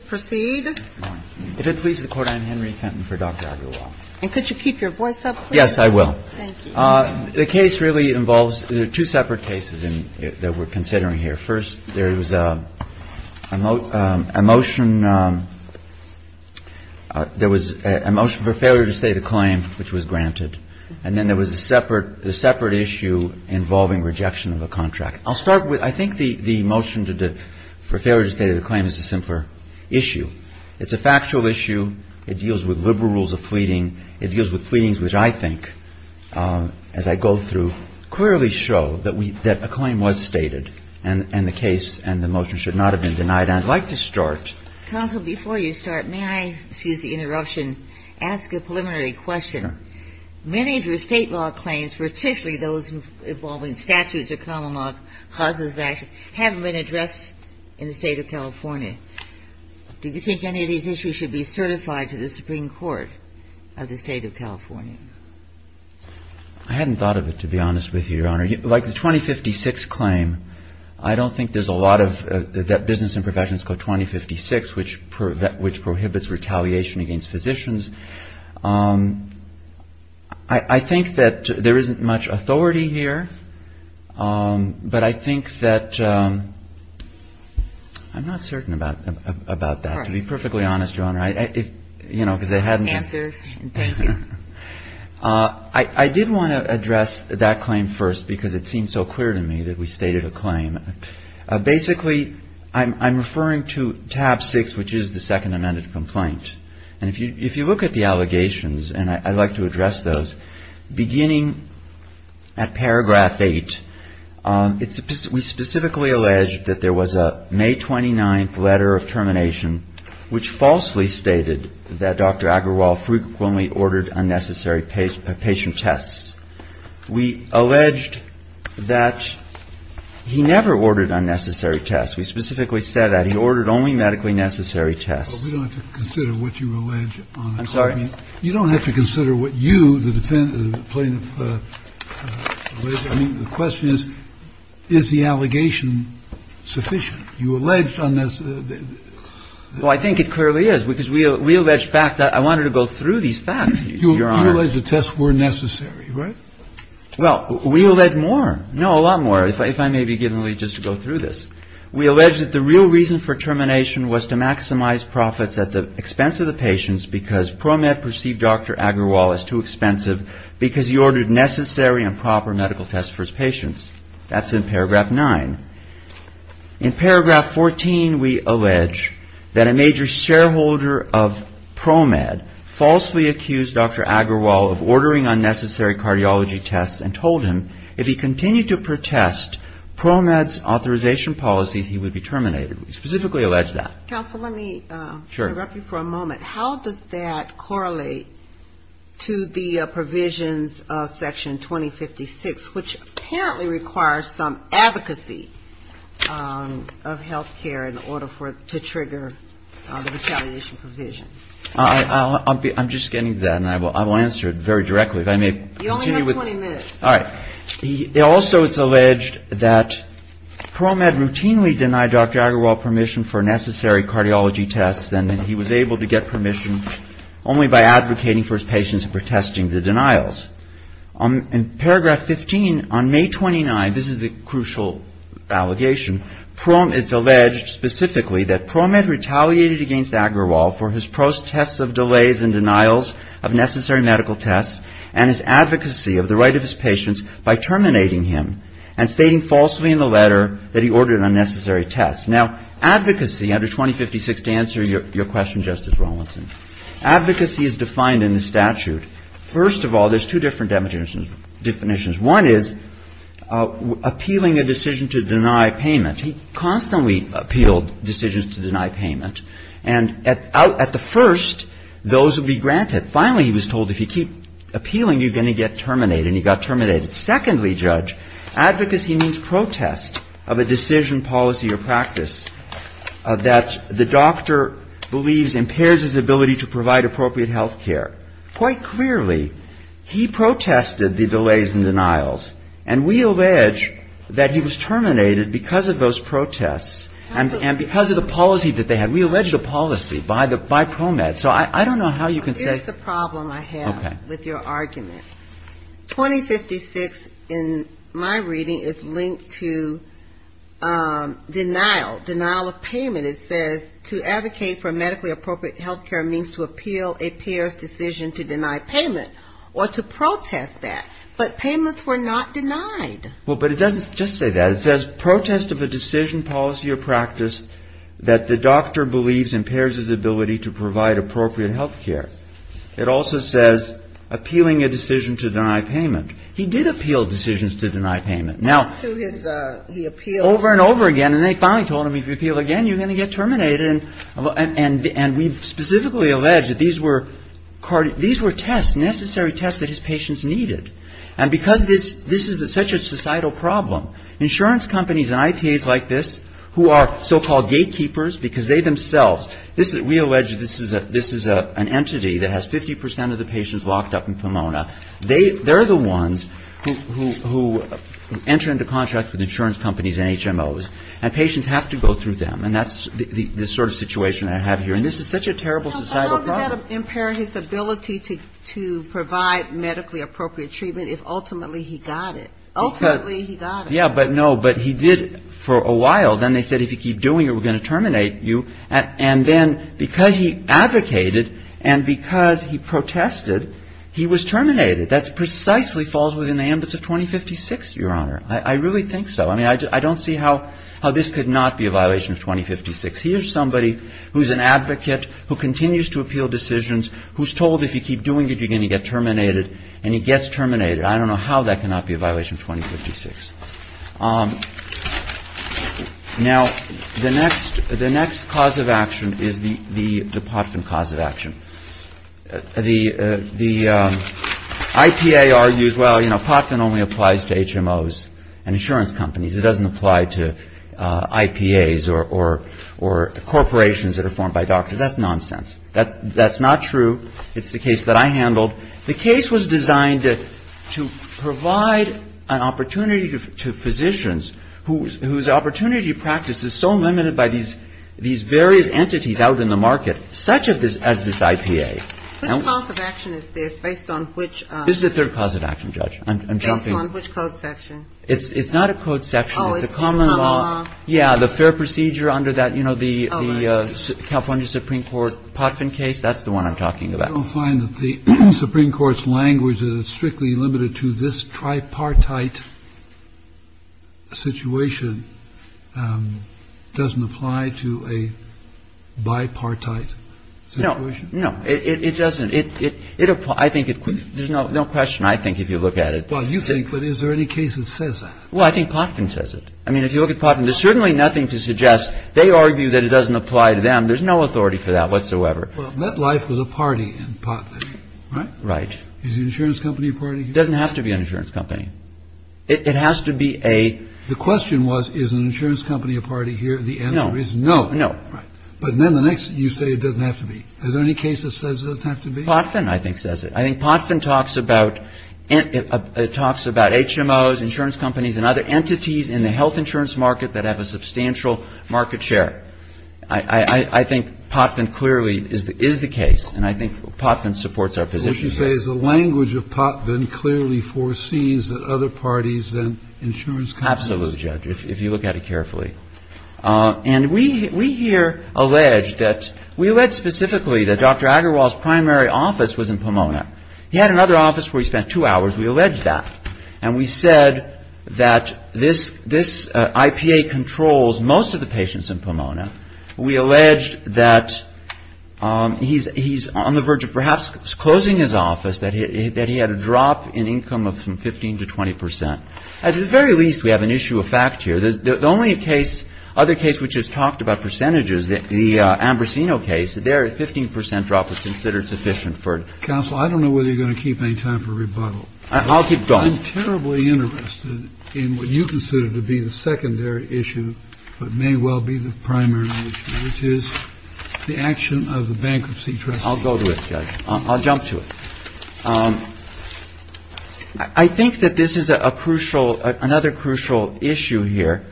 If it pleases the Court, I am Henry Fenton for Dr. Agarwal. And could you keep your voice up, please? Yes, I will. Thank you. The case really involves two separate cases that we're considering here. First, there was a motion for failure to state a claim, which was granted. And then there was a separate issue involving rejection of a contract. I'll start with I think the motion for failure to state a claim is a simpler issue. It's a factual issue. It deals with liberal rules of pleading. It deals with pleadings, which I think, as I go through, clearly show that a claim was stated. And the case and the motion should not have been denied. And I'd like to start. Counsel, before you start, may I, excuse the interruption, ask a preliminary question? Sure. Many of your state law claims, particularly those involving statutes or common law clauses of action, haven't been addressed in the State of California. Do you think any of these issues should be certified to the Supreme Court of the State of California? I hadn't thought of it, to be honest with you, Your Honor. Like the 2056 claim, I don't think there's a lot of that business and profession is called 2056, which prohibits retaliation against physicians. I think that there isn't much authority here, but I think that I'm not certain about that. To be perfectly honest, Your Honor, if, you know, because I haven't answered. Thank you. I did want to address that claim first because it seemed so clear to me that we stated a claim. Basically, I'm referring to tab six, which is the second amended complaint. And if you look at the allegations, and I'd like to address those, beginning at paragraph eight, we specifically alleged that there was a May 29th letter of termination which falsely stated that Dr. Agarwal frequently ordered unnecessary patient tests. We alleged that he never ordered unnecessary tests. We specifically said that he ordered only medically necessary tests. But we don't have to consider what you allege, Your Honor. I'm sorry? You don't have to consider what you, the defendant, the plaintiff, alleged. I mean, the question is, is the allegation sufficient? You alleged unnecessary. Well, I think it clearly is, because we allege facts. I wanted to go through these facts, Your Honor. You allege the tests were necessary, right? Well, we allege more. No, a lot more. If I may be given the legitimacy to go through this. We allege that the real reason for termination was to maximize profits at the expense of the patients because ProMed perceived Dr. Agarwal as too expensive because he ordered necessary and proper medical tests for his patients. That's in paragraph nine. In paragraph 14, we allege that a major shareholder of ProMed falsely accused Dr. Agarwal of ordering unnecessary cardiology tests and told him if he continued to protest ProMed's authorization policies, he would be terminated. We specifically allege that. Counsel, let me interrupt you for a moment. How does that correlate to the provisions of section 2056, which apparently requires some advocacy of health care in order to trigger the retaliation provision? I'm just getting to that, and I will answer it very directly. If I may. You only have 20 minutes. All right. It also is alleged that ProMed routinely denied Dr. Agarwal permission for necessary cardiology tests, and that he was able to get permission only by advocating for his patients and protesting the denials. In paragraph 15, on May 29, this is the crucial allegation. It's alleged specifically that ProMed retaliated against Agarwal for his protests of delays and denials of necessary medical tests and his advocacy of the right of his patients by terminating him and stating falsely in the letter that he ordered unnecessary tests. Now, advocacy, under 2056, to answer your question, Justice Rawlinson, advocacy is defined in the statute. First of all, there's two different definitions. One is appealing a decision to deny payment. He constantly appealed decisions to deny payment. And at the first, those would be granted. Finally, he was told if you keep appealing, you're going to get terminated, and he got terminated. Secondly, Judge, advocacy means protest of a decision, policy, or practice that the doctor believes impairs his ability to provide appropriate health care. Quite clearly, he protested the delays and denials, and we allege that he was terminated because of those protests and because of the policy that they had. We allege the policy by ProMed. So I don't know how you can say the problem I have with your argument. 2056, in my reading, is linked to denial, denial of payment. It says to advocate for medically appropriate health care means to appeal a peer's decision to deny payment or to protest that. But payments were not denied. Well, but it doesn't just say that. It says protest of a decision, policy, or practice that the doctor believes impairs his ability to provide appropriate health care. It also says appealing a decision to deny payment. He did appeal decisions to deny payment. Now, over and over again, and they finally told him if you appeal again, you're going to get terminated. And we specifically allege that these were tests, necessary tests that his patients needed. And because this is such a societal problem, insurance companies and IPAs like this, who are so-called gatekeepers, because they themselves, we allege this is an entity that has 50 percent of the patients locked up in Pomona. They're the ones who enter into contracts with insurance companies and HMOs, and patients have to go through them. And that's the sort of situation I have here. And this is such a terrible societal problem. No, but how does that impair his ability to provide medically appropriate treatment if ultimately he got it? Ultimately he got it. Yeah, but no, but he did for a while. Then they said if you keep doing it, we're going to terminate you. And then because he advocated and because he protested, he was terminated. That precisely falls within the ambit of 2056, Your Honor. I really think so. I mean, I don't see how this could not be a violation of 2056. Here's somebody who's an advocate, who continues to appeal decisions, who's told if you keep doing it, you're going to get terminated, and he gets terminated. I don't know how that cannot be a violation of 2056. Now, the next cause of action is the POTFIN cause of action. The IPA argues, well, you know, POTFIN only applies to HMOs and insurance companies. It doesn't apply to IPAs or corporations that are formed by doctors. That's nonsense. That's not true. It's the case that I handled. The case was designed to provide an opportunity to physicians whose opportunity practice is so limited by these various entities out in the market, such as this IPA. Which cause of action is this based on which? This is the third cause of action, Judge. Based on which code section? It's not a code section. It's a common law. Oh, it's the common law. Yeah. The fair procedure under that, you know, the California Supreme Court POTFIN case. That's the one I'm talking about. I don't find that the Supreme Court's language is strictly limited to this tripartite situation doesn't apply to a bipartite situation. No. No. It doesn't. It applies. I think there's no question, I think, if you look at it. Well, you think, but is there any case that says that? Well, I think POTFIN says it. I mean, if you look at POTFIN, there's certainly nothing to suggest. They argue that it doesn't apply to them. There's no authority for that whatsoever. Well, MetLife was a party in POTFIN, right? Right. Is an insurance company a party here? It doesn't have to be an insurance company. It has to be a... The question was, is an insurance company a party here? The answer is no. No. Right. But then the next thing you say, it doesn't have to be. Is there any case that says it doesn't have to be? POTFIN, I think, says it. I think POTFIN talks about HMOs, insurance companies, and other entities in the health insurance market that have a substantial market share. I think POTFIN clearly is the case, and I think POTFIN supports our position here. What you say is the language of POTFIN clearly foresees that other parties and insurance companies... Absolutely, Judge, if you look at it carefully. And we here allege that... We allege specifically that Dr. Agarwal's primary office was in Pomona. He had another office where he spent two hours. We allege that. And we said that this IPA controls most of the patients in Pomona. We allege that he's on the verge of perhaps closing his office, that he had a drop in income of 15 to 20 percent. At the very least, we have an issue of fact here. The only case, other case, which has talked about percentages, the Ambrosino case, their 15 percent drop was considered sufficient for... Counsel, I don't know whether you're going to keep any time for rebuttal. I'll keep going. I'm terribly interested in what you consider to be the secondary issue, but may well be the primary issue, which is the action of the bankruptcy trustee. I'll go to it, Judge. I'll jump to it. I think that this is a crucial, another crucial issue here.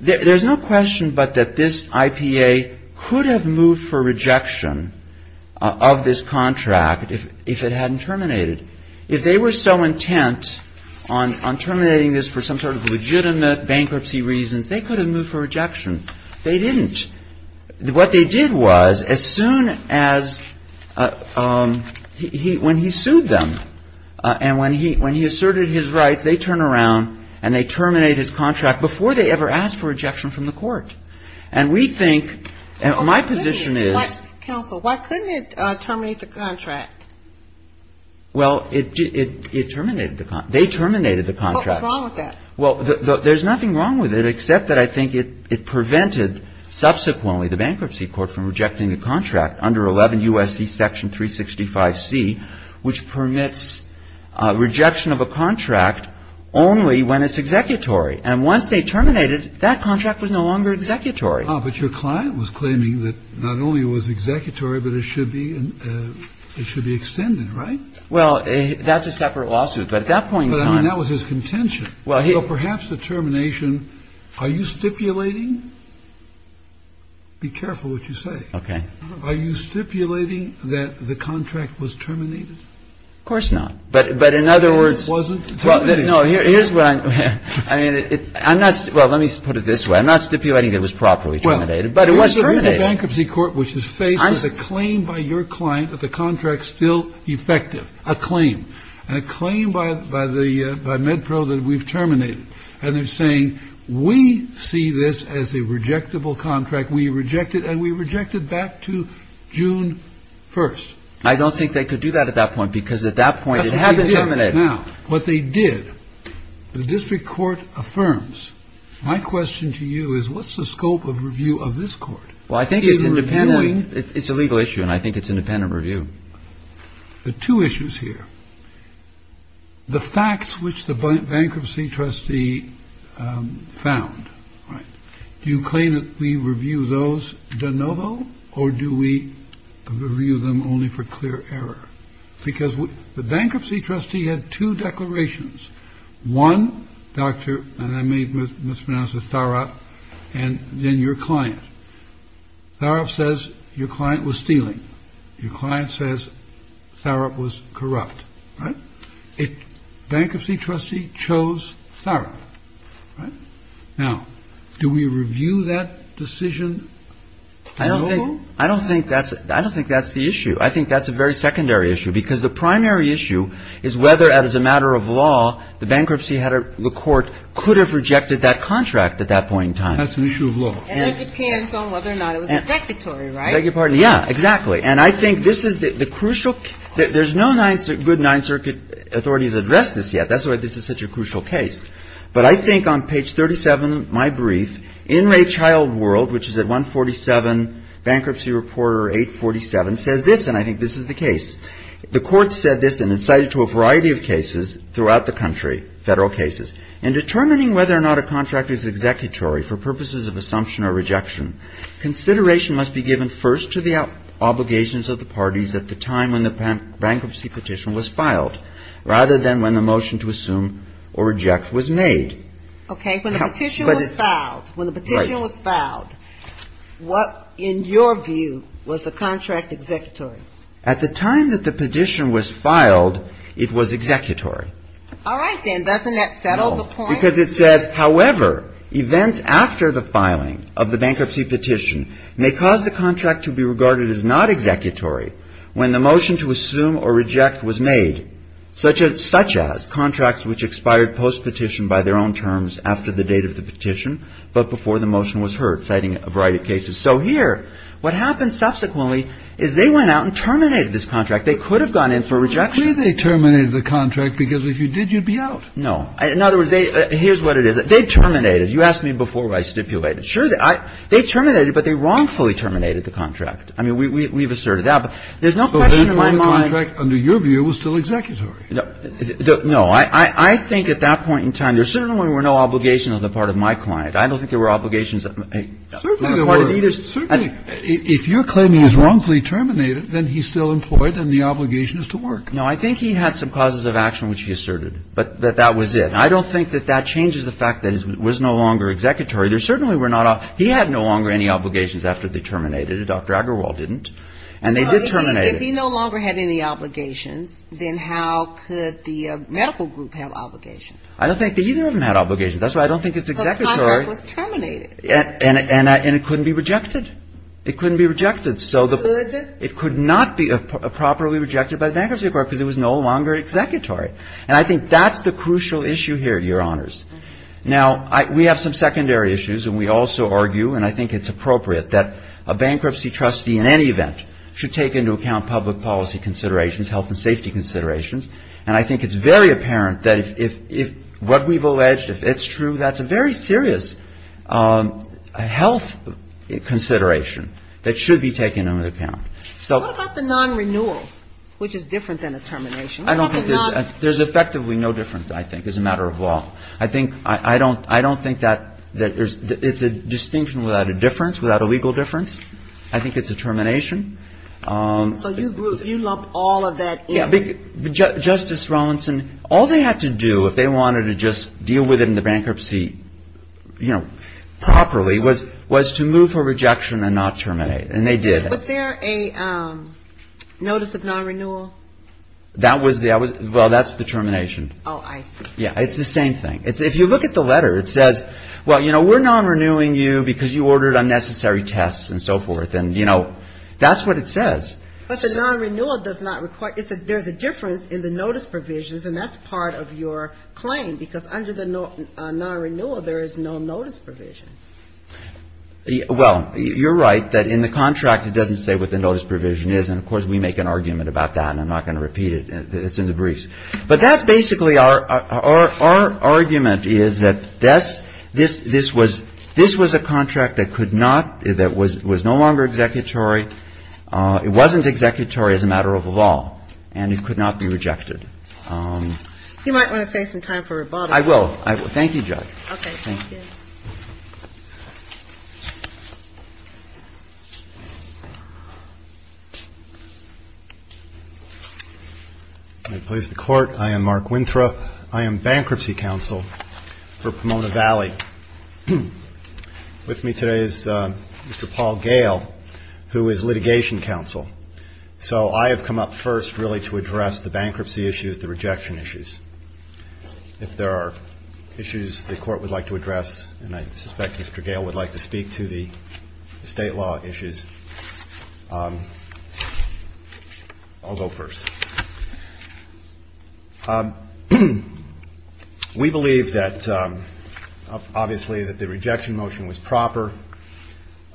There's no question but that this IPA could have moved for rejection of this contract if it hadn't terminated. If they were so intent on terminating this for some sort of legitimate bankruptcy reasons, they could have moved for rejection. They didn't. What they did was, as soon as he, when he sued them and when he asserted his rights, they turned around and they terminated his contract before they ever asked for rejection from the court. And we think, and my position is... Counsel, why couldn't it terminate the contract? Well, it terminated the contract. They terminated the contract. What was wrong with that? Well, there's nothing wrong with it except that I think it prevented subsequently the bankruptcy court from rejecting the contract under 11 U.S.C. Section 365C, which permits rejection of a contract only when it's executory. And once they terminated, that contract was no longer executory. But your client was claiming that not only was it executory, but it should be, it should be extended, right? Well, that's a separate lawsuit. But at that point in time... But I mean, that was his contention. So perhaps the termination... Are you stipulating? Be careful what you say. Okay. Are you stipulating that the contract was terminated? Of course not. But in other words... It wasn't terminated. No, here's what I'm... I mean, I'm not... Well, let me put it this way. I'm not stipulating that it was properly terminated, but it was terminated. And a claim by MedPro that we've terminated. And they're saying, we see this as a rejectable contract. We reject it, and we reject it back to June 1st. I don't think they could do that at that point, because at that point, it had to terminate. Now, what they did, the district court affirms. My question to you is, what's the scope of review of this court? Well, I think it's independent. It's a legal issue, and I think it's independent review. The two issues here, the facts which the bankruptcy trustee found. Do you claim that we review those de novo, or do we review them only for clear error? Because the bankruptcy trustee had two declarations. One, Dr.... and I may mispronounce this... Tharoff, and then your client. Tharoff says your client was stealing. Your client says Tharoff was corrupt. Right? A bankruptcy trustee chose Tharoff. Right? Now, do we review that decision de novo? I don't think that's the issue. I think that's a very secondary issue, because the primary issue is whether, as a matter of law, the bankruptcy had a... the court could have rejected that contract at that point in time. That's an issue of law. And it depends on whether or not it was executory, right? I beg your pardon. Yeah, exactly. And I think this is the crucial... there's no good Ninth Circuit authorities to address this yet. That's why this is such a crucial case. But I think on page 37 of my brief, Inmate Child World, which is at 147, Bankruptcy Reporter 847, says this, and I think this is the case. The court said this, and it's cited to a variety of cases throughout the country, Federal cases. In determining whether or not a contract is executory for purposes of assumption or rejection, consideration must be given first to the obligations of the parties at the time when the bankruptcy petition was filed, rather than when the motion to assume or reject was made. Okay. When the petition was filed, when the petition was filed, what, in your view, was the contract executory? At the time that the petition was filed, it was executory. All right, then. Doesn't that settle the point? Because it says, however, events after the filing of the bankruptcy petition may cause the contract to be regarded as not executory when the motion to assume or reject was made, such as contracts which expired post-petition by their own terms after the date of the petition, but before the motion was heard, citing a variety of cases. So here, what happens subsequently is they went out and terminated this contract. They could have gone in for rejection. Clearly they terminated the contract because if you did, you'd be out. No. In other words, they – here's what it is. They terminated. You asked me before where I stipulated. Sure, they terminated, but they wrongfully terminated the contract. I mean, we've asserted that. But there's no question in my mind – So the contract, under your view, was still executory. No. I think at that point in time there certainly were no obligations on the part of my client. I don't think there were obligations on the part of either – Certainly there were. Certainly. If you're claiming he's wrongfully terminated, then he's still employed and the obligation is to work. No, I think he had some causes of action which he asserted, but that that was it. And I don't think that that changes the fact that it was no longer executory. There certainly were not – he had no longer any obligations after they terminated it. Dr. Agarwal didn't. And they did terminate it. If he no longer had any obligations, then how could the medical group have obligations? I don't think that either of them had obligations. That's why I don't think it's executory. The contract was terminated. And it couldn't be rejected. It couldn't be rejected. So the – It could. It could not be properly rejected by the Bankruptcy Court because it was no longer executory. And I think that's the crucial issue here, Your Honors. Now, we have some secondary issues, and we also argue, and I think it's appropriate, that a bankruptcy trustee in any event should take into account public policy considerations, health and safety considerations. And I think it's very apparent that if what we've alleged, if it's true, that's a very serious health consideration that should be taken into account. What about the non-renewal, which is different than a termination? There's effectively no difference, I think, as a matter of law. I don't think that it's a distinction without a difference, without a legal difference. I think it's a termination. So you lumped all of that in? Justice Rawlinson, all they had to do if they wanted to just deal with it in the bankruptcy, you know, properly, was to move for rejection and not terminate. And they did. Was there a notice of non-renewal? Well, that's the termination. Oh, I see. Yeah. It's the same thing. If you look at the letter, it says, well, you know, we're non-renewing you because you ordered unnecessary tests and so forth. And, you know, that's what it says. But the non-renewal does not require – there's a difference in the notice provisions, and that's part of your claim, because under the non-renewal, there is no notice provision. Well, you're right that in the contract, it doesn't say what the notice provision is. And, of course, we make an argument about that, and I'm not going to repeat it. It's in the briefs. But that's basically our argument is that this was a contract that could not – that was no longer executory. It wasn't executory as a matter of law, and it could not be rejected. You might want to save some time for rebuttal. Thank you, Judge. Thank you. May it please the Court. I am Mark Winthrop. I am Bankruptcy Counsel for Pomona Valley. With me today is Mr. Paul Gale, who is Litigation Counsel. So I have come up first, really, to address the bankruptcy issues, the rejection issues. If there are issues the Court would like to address, and I suspect Mr. Gale would like to speak to the State law issues, I'll go first. We believe that, obviously, that the rejection motion was proper.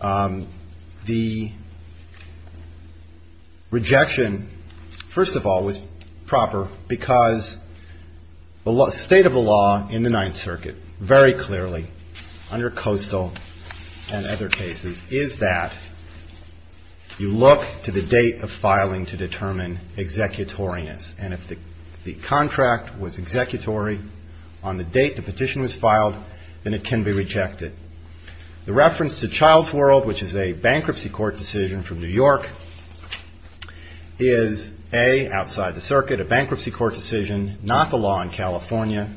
The rejection, first of all, was proper because the state of the law in the Ninth Circuit, very clearly, under Coastal and other cases, is that you look to the date of filing to determine executoriness. And if the contract was executory on the date the petition was filed, then it can be rejected. The reference to Childs World, which is a bankruptcy court decision from New York, is A, outside the circuit, a bankruptcy court decision, not the law in California,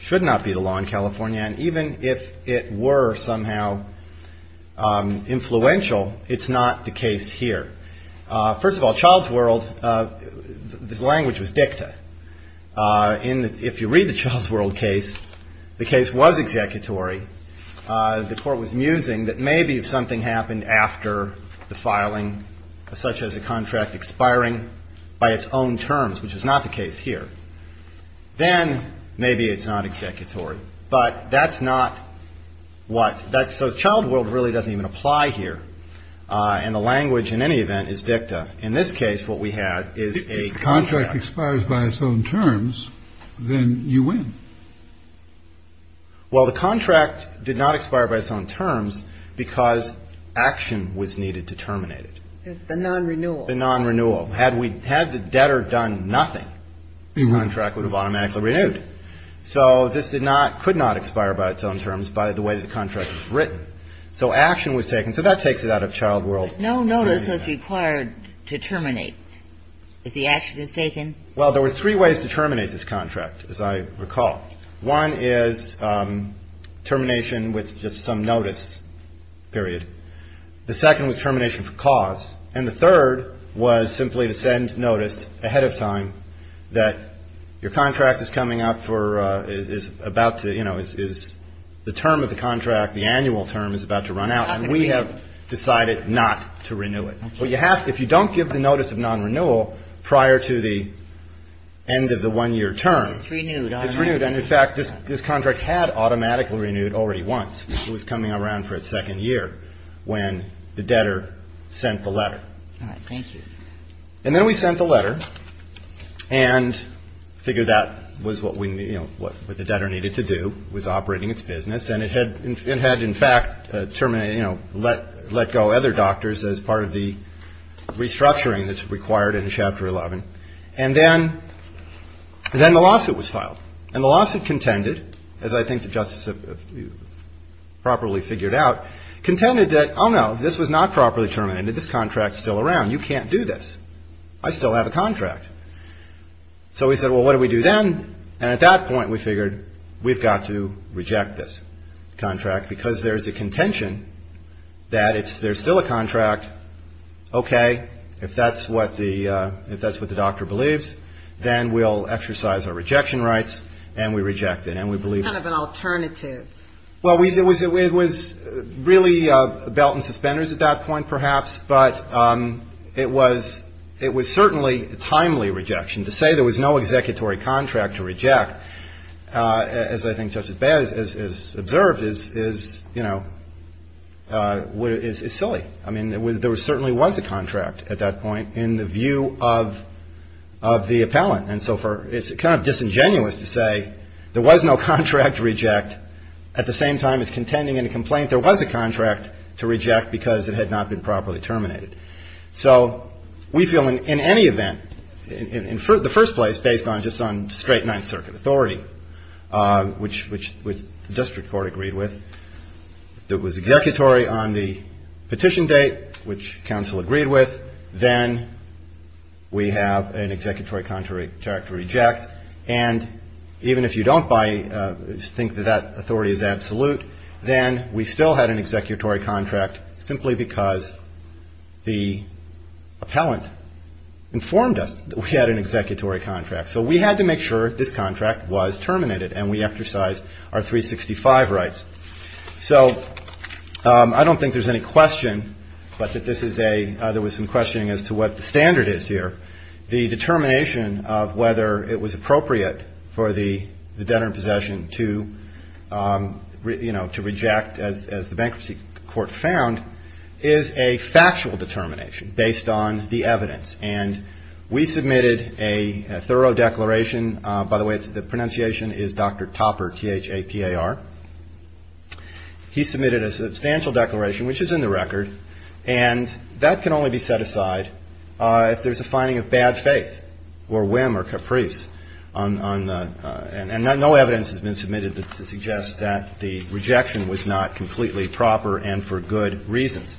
should not be the law in California. And even if it were somehow influential, it's not the case here. First of all, Childs World, the language was dicta. In the, if you read the Childs World case, the case was executory. The Court was musing that maybe if something happened after the filing, such as a contract expiring by its own terms, which is not the case here, then maybe it's not executory. But that's not what, that's, so Childs World really doesn't even apply here. And the language, in any event, is dicta. In this case, what we have is a contract. If the contract expires by its own terms, then you win. Well, the contract did not expire by its own terms because action was needed to terminate it. The non-renewal. The non-renewal. Had we, had the debtor done nothing, the contract would have automatically renewed. So this did not, could not expire by its own terms by the way the contract was written. So action was taken. So that takes it out of Childs World. But no notice is required to terminate if the action is taken. Well, there were three ways to terminate this contract, as I recall. One is termination with just some notice, period. The second was termination for cause. And the third was simply to send notice ahead of time that your contract is coming up for, is about to, you know, is the term of the contract, the annual term, is about to run out. And we have decided not to renew it. But you have to, if you don't give the notice of non-renewal prior to the end of the one-year term. It's renewed. It's renewed. And in fact, this contract had automatically renewed already once. It was coming around for its second year when the debtor sent the letter. All right. Thank you. And then we sent the letter and figured that was what we, you know, what the debtor needed to do was operating its business. And it had in fact terminated, you know, let go other doctors as part of the restructuring that's required in Chapter 11. And then the lawsuit was filed. And the lawsuit contended, as I think the Justice has properly figured out, contended that, oh, no, this was not properly terminated. This contract is still around. You can't do this. I still have a contract. So we said, well, what do we do then? And at that point we figured we've got to reject this contract because there's a contention that there's still a contract. Okay. If that's what the doctor believes, then we'll exercise our rejection rights and we reject it and we believe it. Kind of an alternative. Well, it was really a belt and suspenders at that point perhaps. But it was certainly a timely rejection. To say there was no executory contract to reject, as I think Justice Beyer has observed, is, you know, is silly. I mean, there certainly was a contract at that point in the view of the appellant. And so it's kind of disingenuous to say there was no contract to reject at the same time as contending in a complaint there was a So we feel in any event, in the first place, based on just on straight Ninth Circuit authority, which the district court agreed with, that was executory on the petition date, which counsel agreed with, then we have an executory contract to reject. And even if you don't think that that authority is absolute, then we still had an executory contract simply because the appellant informed us that we had an executory contract. So we had to make sure this contract was terminated and we exercised our 365 rights. So I don't think there's any question, but that this is a there was some questioning as to what the standard is here. The determination of whether it was appropriate for the debtor in possession to, you know, to reject as the bankruptcy court found is a factual determination based on the evidence. And we submitted a thorough declaration. By the way, the pronunciation is Dr. Topper, T-H-A-P-A-R. He submitted a substantial declaration, which is in the record. And that can only be set aside if there's a finding of bad faith or whim or caprice on. And no evidence has been submitted to suggest that the rejection was not completely proper and for good reasons.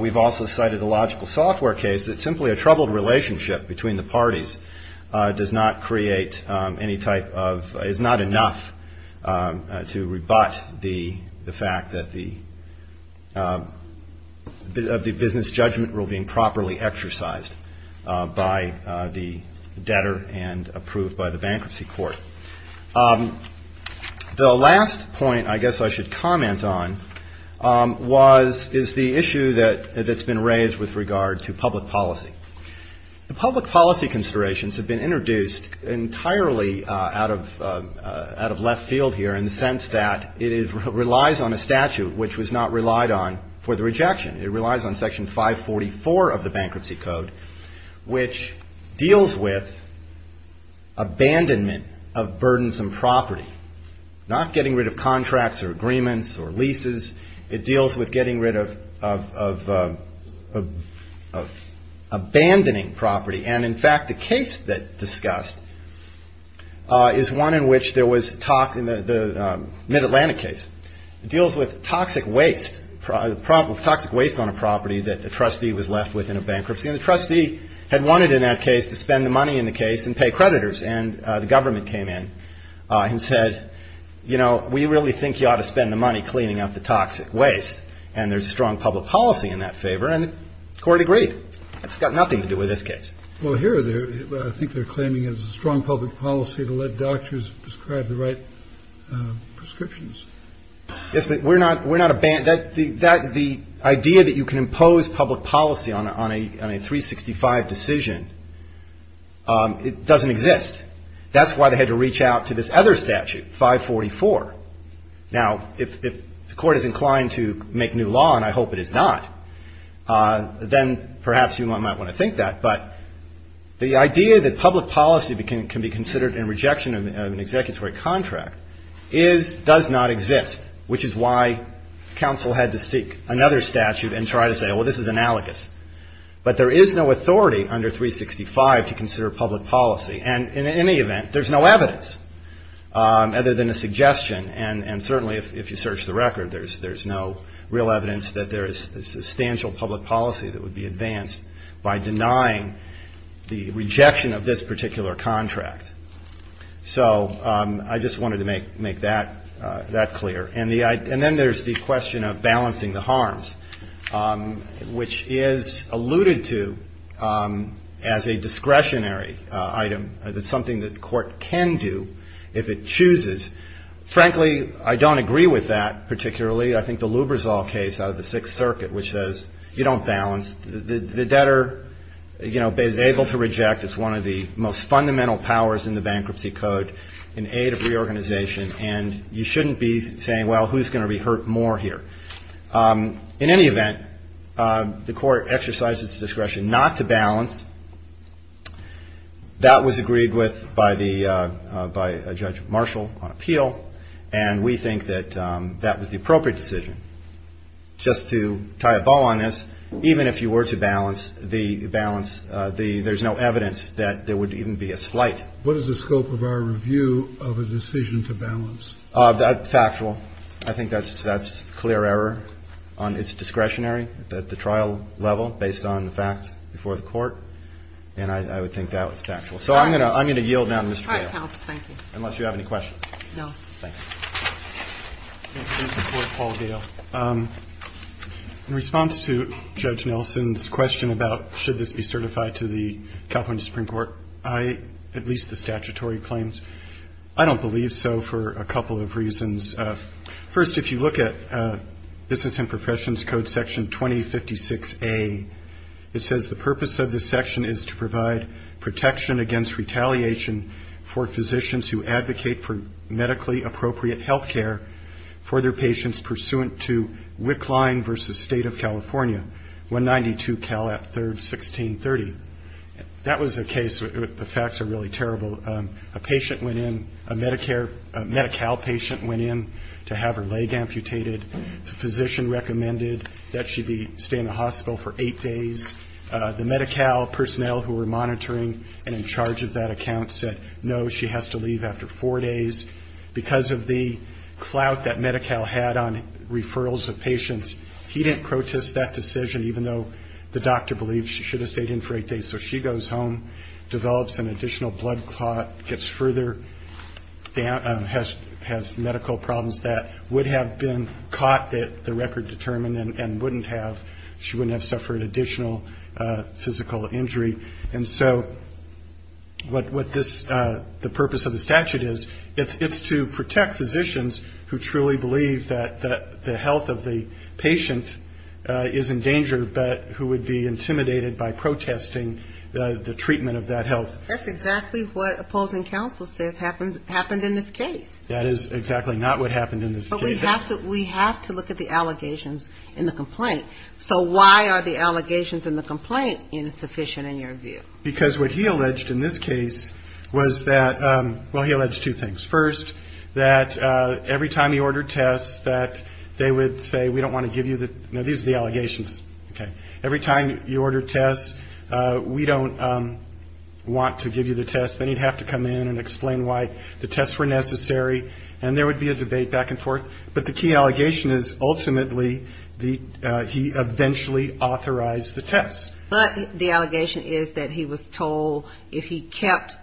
We've also cited the logical software case that simply a troubled relationship between the parties does not create any type of, is not enough to rebut the fact that the business judgment rule being properly exercised by the debtor and approved by the bankruptcy court. The last point I guess I should comment on was, is the issue that's been raised with regard to public policy. The public policy considerations have been introduced entirely out of left field here in the sense that it relies on a statute, which was not relied on for the rejection. It relies on section 544 of the bankruptcy code, which deals with abandonment of burdensome property. Not getting rid of contracts or agreements or leases. It deals with getting rid of abandoning property. And in fact, the case that discussed is one in which there was talk in the mid-Atlantic case. It deals with toxic waste, toxic waste on a property that the trustee was left with in a bankruptcy. And the trustee had wanted in that case to spend the money in the case and pay creditors. And the government came in and said, you know, we really think you ought to spend the money cleaning up the toxic waste. And there's strong public policy in that favor. And the court agreed. It's got nothing to do with this case. The idea that you can impose public policy on a 365 decision, it doesn't exist. That's why they had to reach out to this other statute, 544. Now, if the court is inclined to make new law, and I hope it is not, then perhaps you might want to think that. But the idea that public policy can be considered in rejection of an executory contract does not exist, which is why counsel had to seek another statute and try to say, well, this is analogous. But there is no authority under 365 to consider public policy. And in any event, there's no evidence other than a suggestion, and certainly if you search the record, there's no real evidence that there is substantial public policy that would be advanced by denying the rejection of this particular contract. So I just wanted to make that clear. And then there's the question of balancing the harms, which is alluded to as a discretionary item. It's something that the court can do if it chooses. Frankly, I don't agree with that particularly. I think the Lubrizol case out of the Sixth Circuit, which says you don't balance, the debtor, you know, is able to reject. It's one of the most fundamental powers in the Bankruptcy Code, an aid of reorganization, and you shouldn't be saying, well, who's going to be hurt more here? In any event, the court exercised its discretion not to balance. That was agreed with by the judge Marshall on appeal, and we think that that was the appropriate decision. Just to tie a bow on this, even if you were to balance, the balance, there's no evidence that there would even be a slight. What is the scope of our review of a decision to balance? Factual. I think that's clear error on its discretionary, at the trial level, based on the facts before the court. And I would think that was factual. So I'm going to yield now, Mr. Gale. All right, counsel. Thank you. Unless you have any questions. No. Thank you. In response to Judge Nelson's question about should this be certified to the California Supreme Court, I, at least the statutory claims, I don't believe so for a couple of years. First, if you look at Business and Professions Code Section 2056A, it says the purpose of this section is to provide protection against retaliation for physicians who advocate for medically appropriate health care for their patients pursuant to Wickline v. State of California, 192 Calat 3rd, 1630. That was a case where the facts are really terrible. A patient went in, a Medi-Cal patient went in to have her leg amputated, the physician recommended that she be staying in the hospital for eight days. The Medi-Cal personnel who were monitoring and in charge of that account said, no, she has to leave after four days. Because of the clout that Medi-Cal had on referrals of patients, he didn't protest that decision, even though the doctor believed she should have stayed in for eight days. So she goes home, develops an additional blood clot, gets further, has medical problems that would have been caught that the record determined and wouldn't have, she wouldn't have suffered additional physical injury. And so what this, the purpose of the statute is, it's to protect physicians who truly believe that the health of the patient is in danger, but who would be intimidated by protesting the treatment of that health. That's exactly what opposing counsel says happened in this case. That is exactly not what happened in this case. But we have to look at the allegations in the complaint. So why are the allegations in the complaint insufficient in your view? Because what he alleged in this case was that, well, he alleged two things. First, that every time he ordered tests, that they would say, we don't want to give you the, no, these are the allegations, okay. Every time you order tests, we don't want to give you the tests. Then he'd have to come in and explain why the tests were necessary, and there would be a debate back and forth. But the key allegation is, ultimately, he eventually authorized the tests. But the allegation is that he was told, if he kept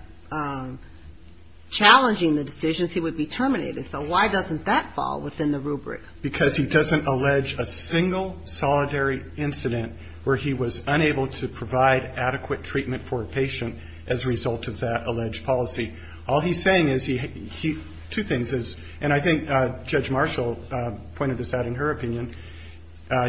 challenging the decision, he would be terminated. So why doesn't that fall within the rubric? Because he doesn't allege a single solidary incident where he was unable to provide adequate treatment for a patient as a result of that alleged policy. All he's saying is he, two things is, and I think Judge Marshall pointed this out in her opinion,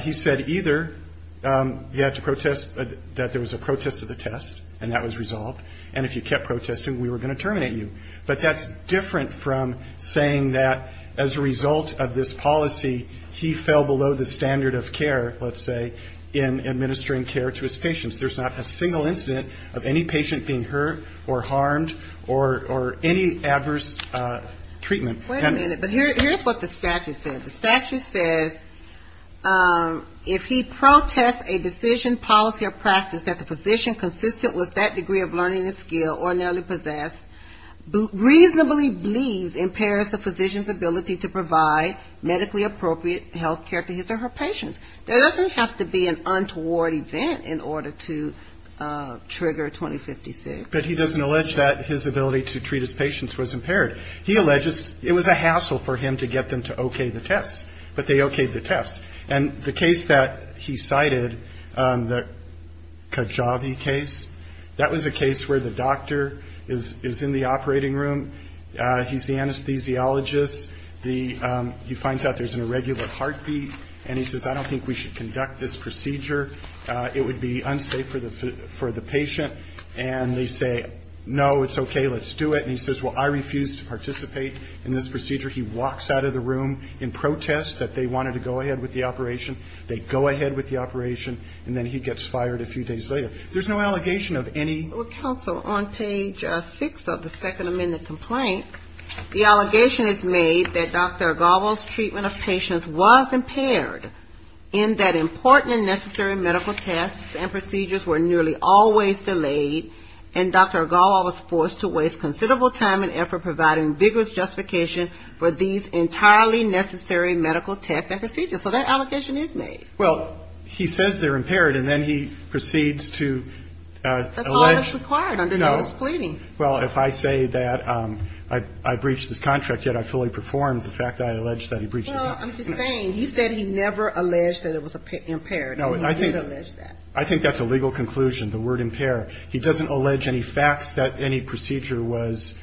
he said either you had to protest that there was a protest to the tests, and that was resolved, and if you kept protesting, we were going to terminate you. But that's different from saying that as a result of this policy, he fell below the standard of care, let's say, in administering care to his patients. There's not a single incident of any patient being hurt or harmed or any adverse treatment. Wait a minute, but here's what the statute says. The statute says, if he protests a decision, policy, or practice that the physician, consistent with that degree of learning and skill, or narrowly possessed, reasonably believes impairs the physician's ability to provide medically appropriate health care to his or her patients. There doesn't have to be an untoward event in order to trigger 2056. But he doesn't allege that his ability to treat his patients was impaired. He alleges it was a hassle for him to get them to okay the tests, but they okayed the tests. And the case that he cited, the Kajavi case, that was a case where the doctor is in the operating room, he's the anesthesiologist, he finds out there's an irregular heartbeat, and he says, I don't think we should conduct this procedure, it would be unsafe for the patient. And they say, no, it's okay, let's do it. And he says, well, I refuse to participate in this procedure. He walks out of the room in protest that they wanted to go ahead with the operation, they go ahead with the operation, and then he gets fired a few days later. There's no allegation of any... Well, counsel, on page 6 of the Second Amendment complaint, the allegation is made that Dr. Agalvo's treatment of patients was impaired, in that important and necessary medical tests and procedures were nearly always delayed, and Dr. Agalvo was forced to waste considerable time and effort providing vigorous justification for these entirely necessary medical tests and procedures. So that allegation is made. Well, he says they're impaired, and then he proceeds to... That's all that's required under notice of pleading. Well, if I say that I breached this contract, yet I fully performed the fact that I alleged that he breached it... Well, I'm just saying, you said he never alleged that it was impaired, and he did allege that. I think that's a legal conclusion, the word impair. He doesn't allege any facts that any procedure was...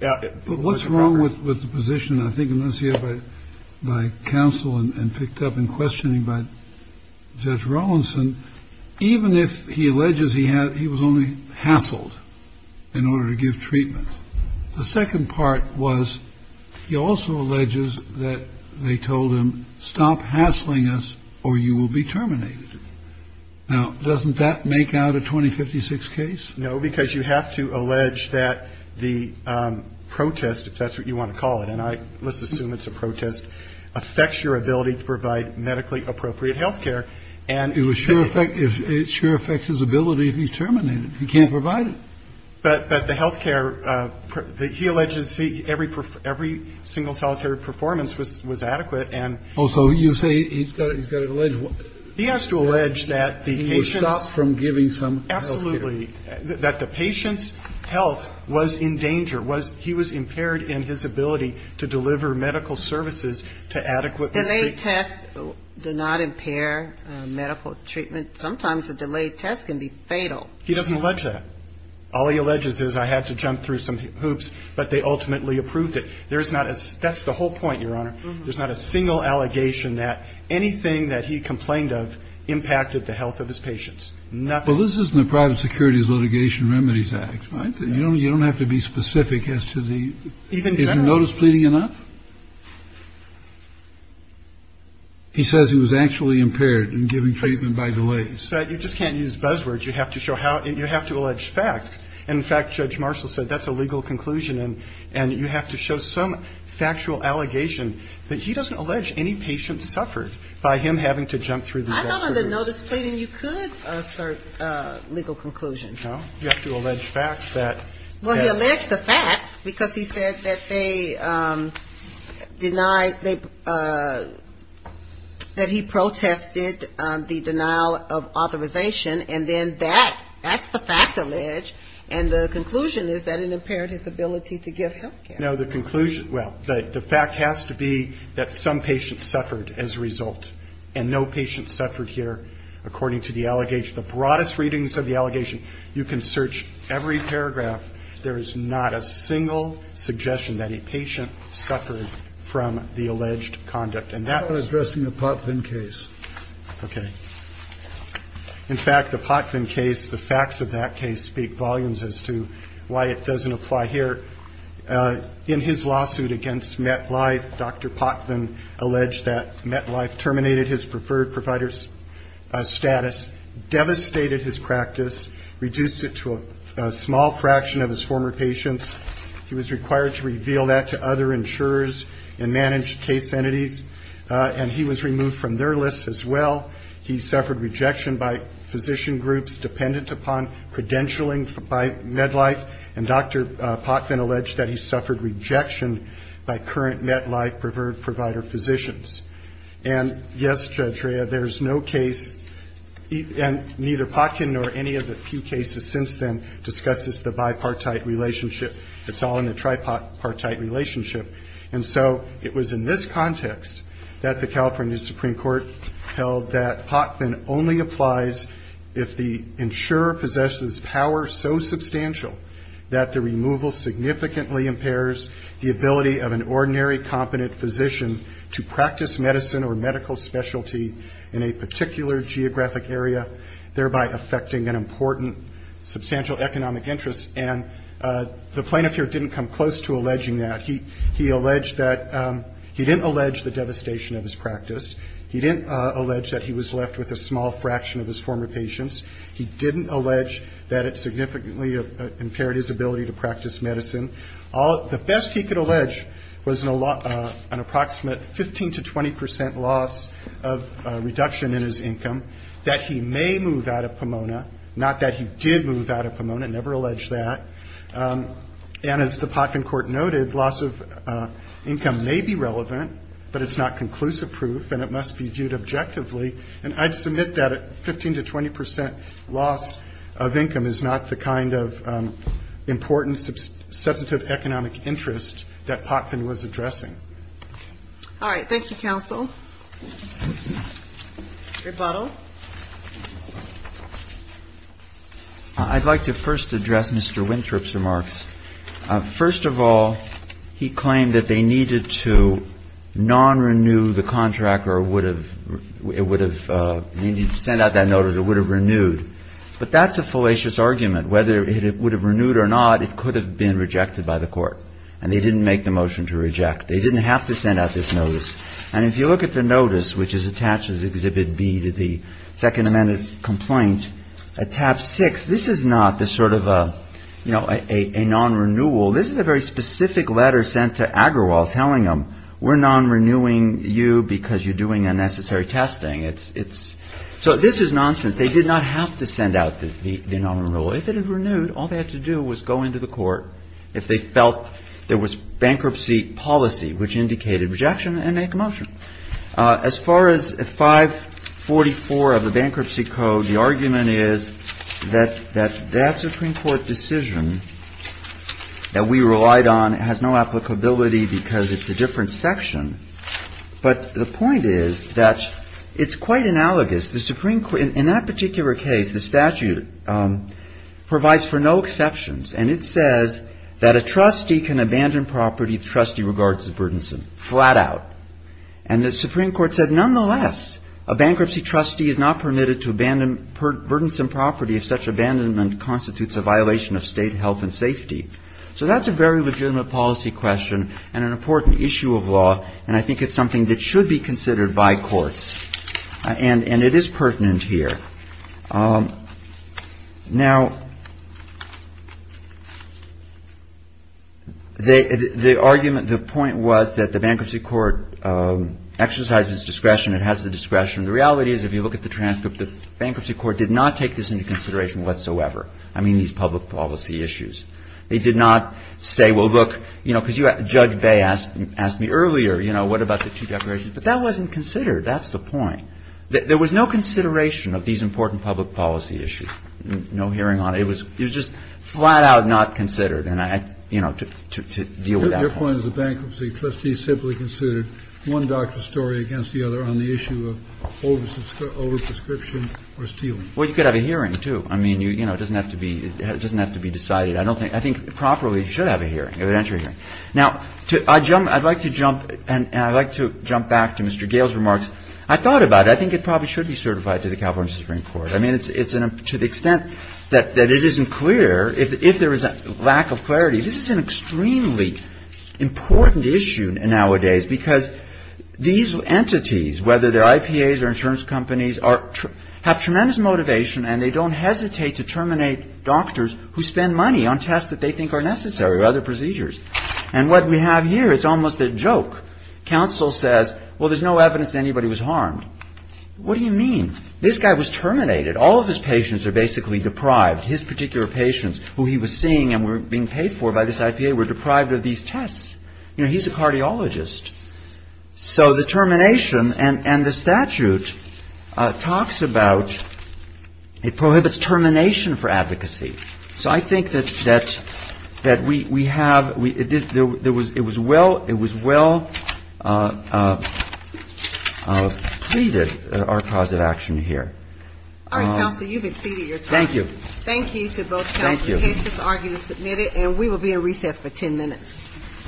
But what's wrong with the position, I think, enunciated by counsel and picked up in questioning by Judge Rawlinson, even if he alleges he was only hassled in order to give treatment. The second part was he also alleges that they told him, stop hassling us or you will be terminated. Now, doesn't that make out a 2056 case? No, because you have to allege that the protest, if that's what you want to call it, and let's assume it's a protest, affects your ability to provide medically appropriate health care. It sure affects his ability if he's terminated. He can't provide it. But the health care, he alleges every single solitary performance was adequate. Oh, so you say he's got to allege... He has to allege that the patient's... He was stopped from giving some health care. That the patient's health was in danger. He was impaired in his ability to deliver medical services to adequate... Delayed tests do not impair medical treatment. Sometimes a delayed test can be fatal. He doesn't allege that. All he alleges is I had to jump through some hoops, but they ultimately approved it. That's the whole point, Your Honor. There's not a single allegation that anything that he complained of impacted the health of his patients. Well, this is in the Private Securities Litigation Remedies Act, right? You don't have to be specific as to the... Is the notice pleading enough? He says he was actually impaired in giving treatment by delays. You just can't use buzzwords. You have to show how... You have to allege facts. And, in fact, Judge Marshall said that's a legal conclusion, and you have to show some factual allegation that he doesn't allege any patient suffered by him having to jump through these... I don't under notice pleading you could assert a legal conclusion. No, you have to allege facts that... Well, he alleged the facts because he said that they denied... that he protested the denial of authorization, and then that, that's the fact alleged, and the conclusion is that it impaired his ability to give health care. No, the conclusion... Well, the fact has to be that some patient suffered as a result, and no patient suffered here, according to the allegation. The broadest readings of the allegation, you can search every paragraph, there is not a single suggestion that a patient suffered from the alleged conduct, and that... I'm addressing the Potvin case. Okay. In fact, the Potvin case, the facts of that case speak volumes as to why it doesn't apply here. In his lawsuit against MedLife, Dr. Potvin alleged that MedLife terminated his preferred provider's status, devastated his practice, reduced it to a small fraction of his former patients. He was required to reveal that to other insurers and managed case entities, and he was removed from their list as well. He suffered rejection by physician groups dependent upon credentialing by MedLife, and Dr. Potvin alleged that he suffered rejection by current MedLife preferred provider physicians. And yes, Judge Rea, there is no case, and neither Potkin nor any of the few cases since then, discusses the bipartite relationship. It's all in the tripartite relationship. And so, it was in this context that the California Supreme Court held that Potvin only applies if the insurer possesses power so substantial that the removal significantly impairs the ability of an ordinary competent physician to practice medicine or medical specialty in a particular geographic area, thereby affecting an important substantial economic interest. And the plaintiff here didn't come close to alleging that. He alleged that... He didn't allege the devastation of his practice. He didn't allege that he was left with a small fraction of his former patients. He didn't allege that it significantly impaired his ability to practice medicine. The best he could allege was an approximate 15 to 20 percent loss of reduction in his income, that he may move out of Pomona, not that he did move out of Pomona, never alleged that. And as the Potvin court noted, loss of income may be relevant, but it's not conclusive proof, and it must be viewed objectively. And I'd submit that a 15 to 20 percent loss of income is not the kind of important substantive economic interest that Potvin was addressing. All right. Thank you, counsel. Rebuttal. I'd like to first address Mr. Winthrop's remarks. First of all, he claimed that they needed to non-renew the contract, or it would have been sent out that notice, it would have renewed. But that's a fallacious argument. Whether it would have renewed or not, it could have been rejected by the court. And they didn't make the motion to reject. They didn't have to send out this notice. And if you look at the notice, which is attached as Exhibit B to the Second Amendment complaint, at tab six, this is not the sort of a non-renewal. This is a very specific letter sent to Agrawal telling them, we're non-renewing you because you're doing unnecessary testing. So this is nonsense. They did not have to send out the non-renewal. If it had renewed, all they had to do was go into the court. If they felt there was bankruptcy policy, which indicated rejection, they'd make a motion. As far as 544 of the Bankruptcy Code, the argument is that that Supreme Court decision that we relied on has no applicability because it's a different section. But the point is that it's quite analogous. In that particular case, the statute provides for no exceptions. And it says that a trustee can abandon property the trustee regards as burdensome. Flat out. And the Supreme Court said, nonetheless, a bankruptcy trustee is not permitted to abandon burdensome property if such abandonment constitutes a violation of state health and safety. So that's a very legitimate policy question and an important issue of law. And I think it's something that should be considered by courts. And it is pertinent here. Now, the argument, the point was that the bankruptcy court exercises discretion. It has the discretion. The reality is if you look at the transcript, the bankruptcy court did not take this into consideration whatsoever. I mean, these public policy issues. They did not say, well, look, you know, because Judge Bay asked me earlier, you know, what about the two declarations? But that wasn't considered. That's the point. There was no consideration of these important public policy issues. No hearing on it. It was just flat out not considered. And, you know, to deal with that. Your point is a bankruptcy trustee simply considered one doctor's story against the other on the issue of overprescription or stealing. Well, you could have a hearing, too. I mean, you know, it doesn't have to be decided. I think properly you should have a hearing, an evidentiary hearing. Now, I'd like to jump back to Mr. Gale's remarks. I thought about it. I think it probably should be certified to the California Supreme Court. I mean, to the extent that it isn't clear, if there is a lack of clarity, this is an extremely important issue nowadays because these entities, whether they're IPAs or insurance companies, have tremendous motivation and they don't hesitate to terminate doctors who spend money on tests that they think are necessary or other procedures. And what we have here is almost a joke. Counsel says, well, there's no evidence that anybody was harmed. What do you mean? This guy was terminated. All of his patients are basically deprived. His particular patients, who he was seeing and were being paid for by this IPA, were deprived of these tests. You know, he's a cardiologist. So the termination and the statute talks about it prohibits termination for advocacy. So I think that we have, it was well pleaded, our cause of action here. All right, counsel, you've exceeded your time. Thank you. Thank you to both counsel and patients arguing to submit it. And we will be in recess for 10 minutes. All rise.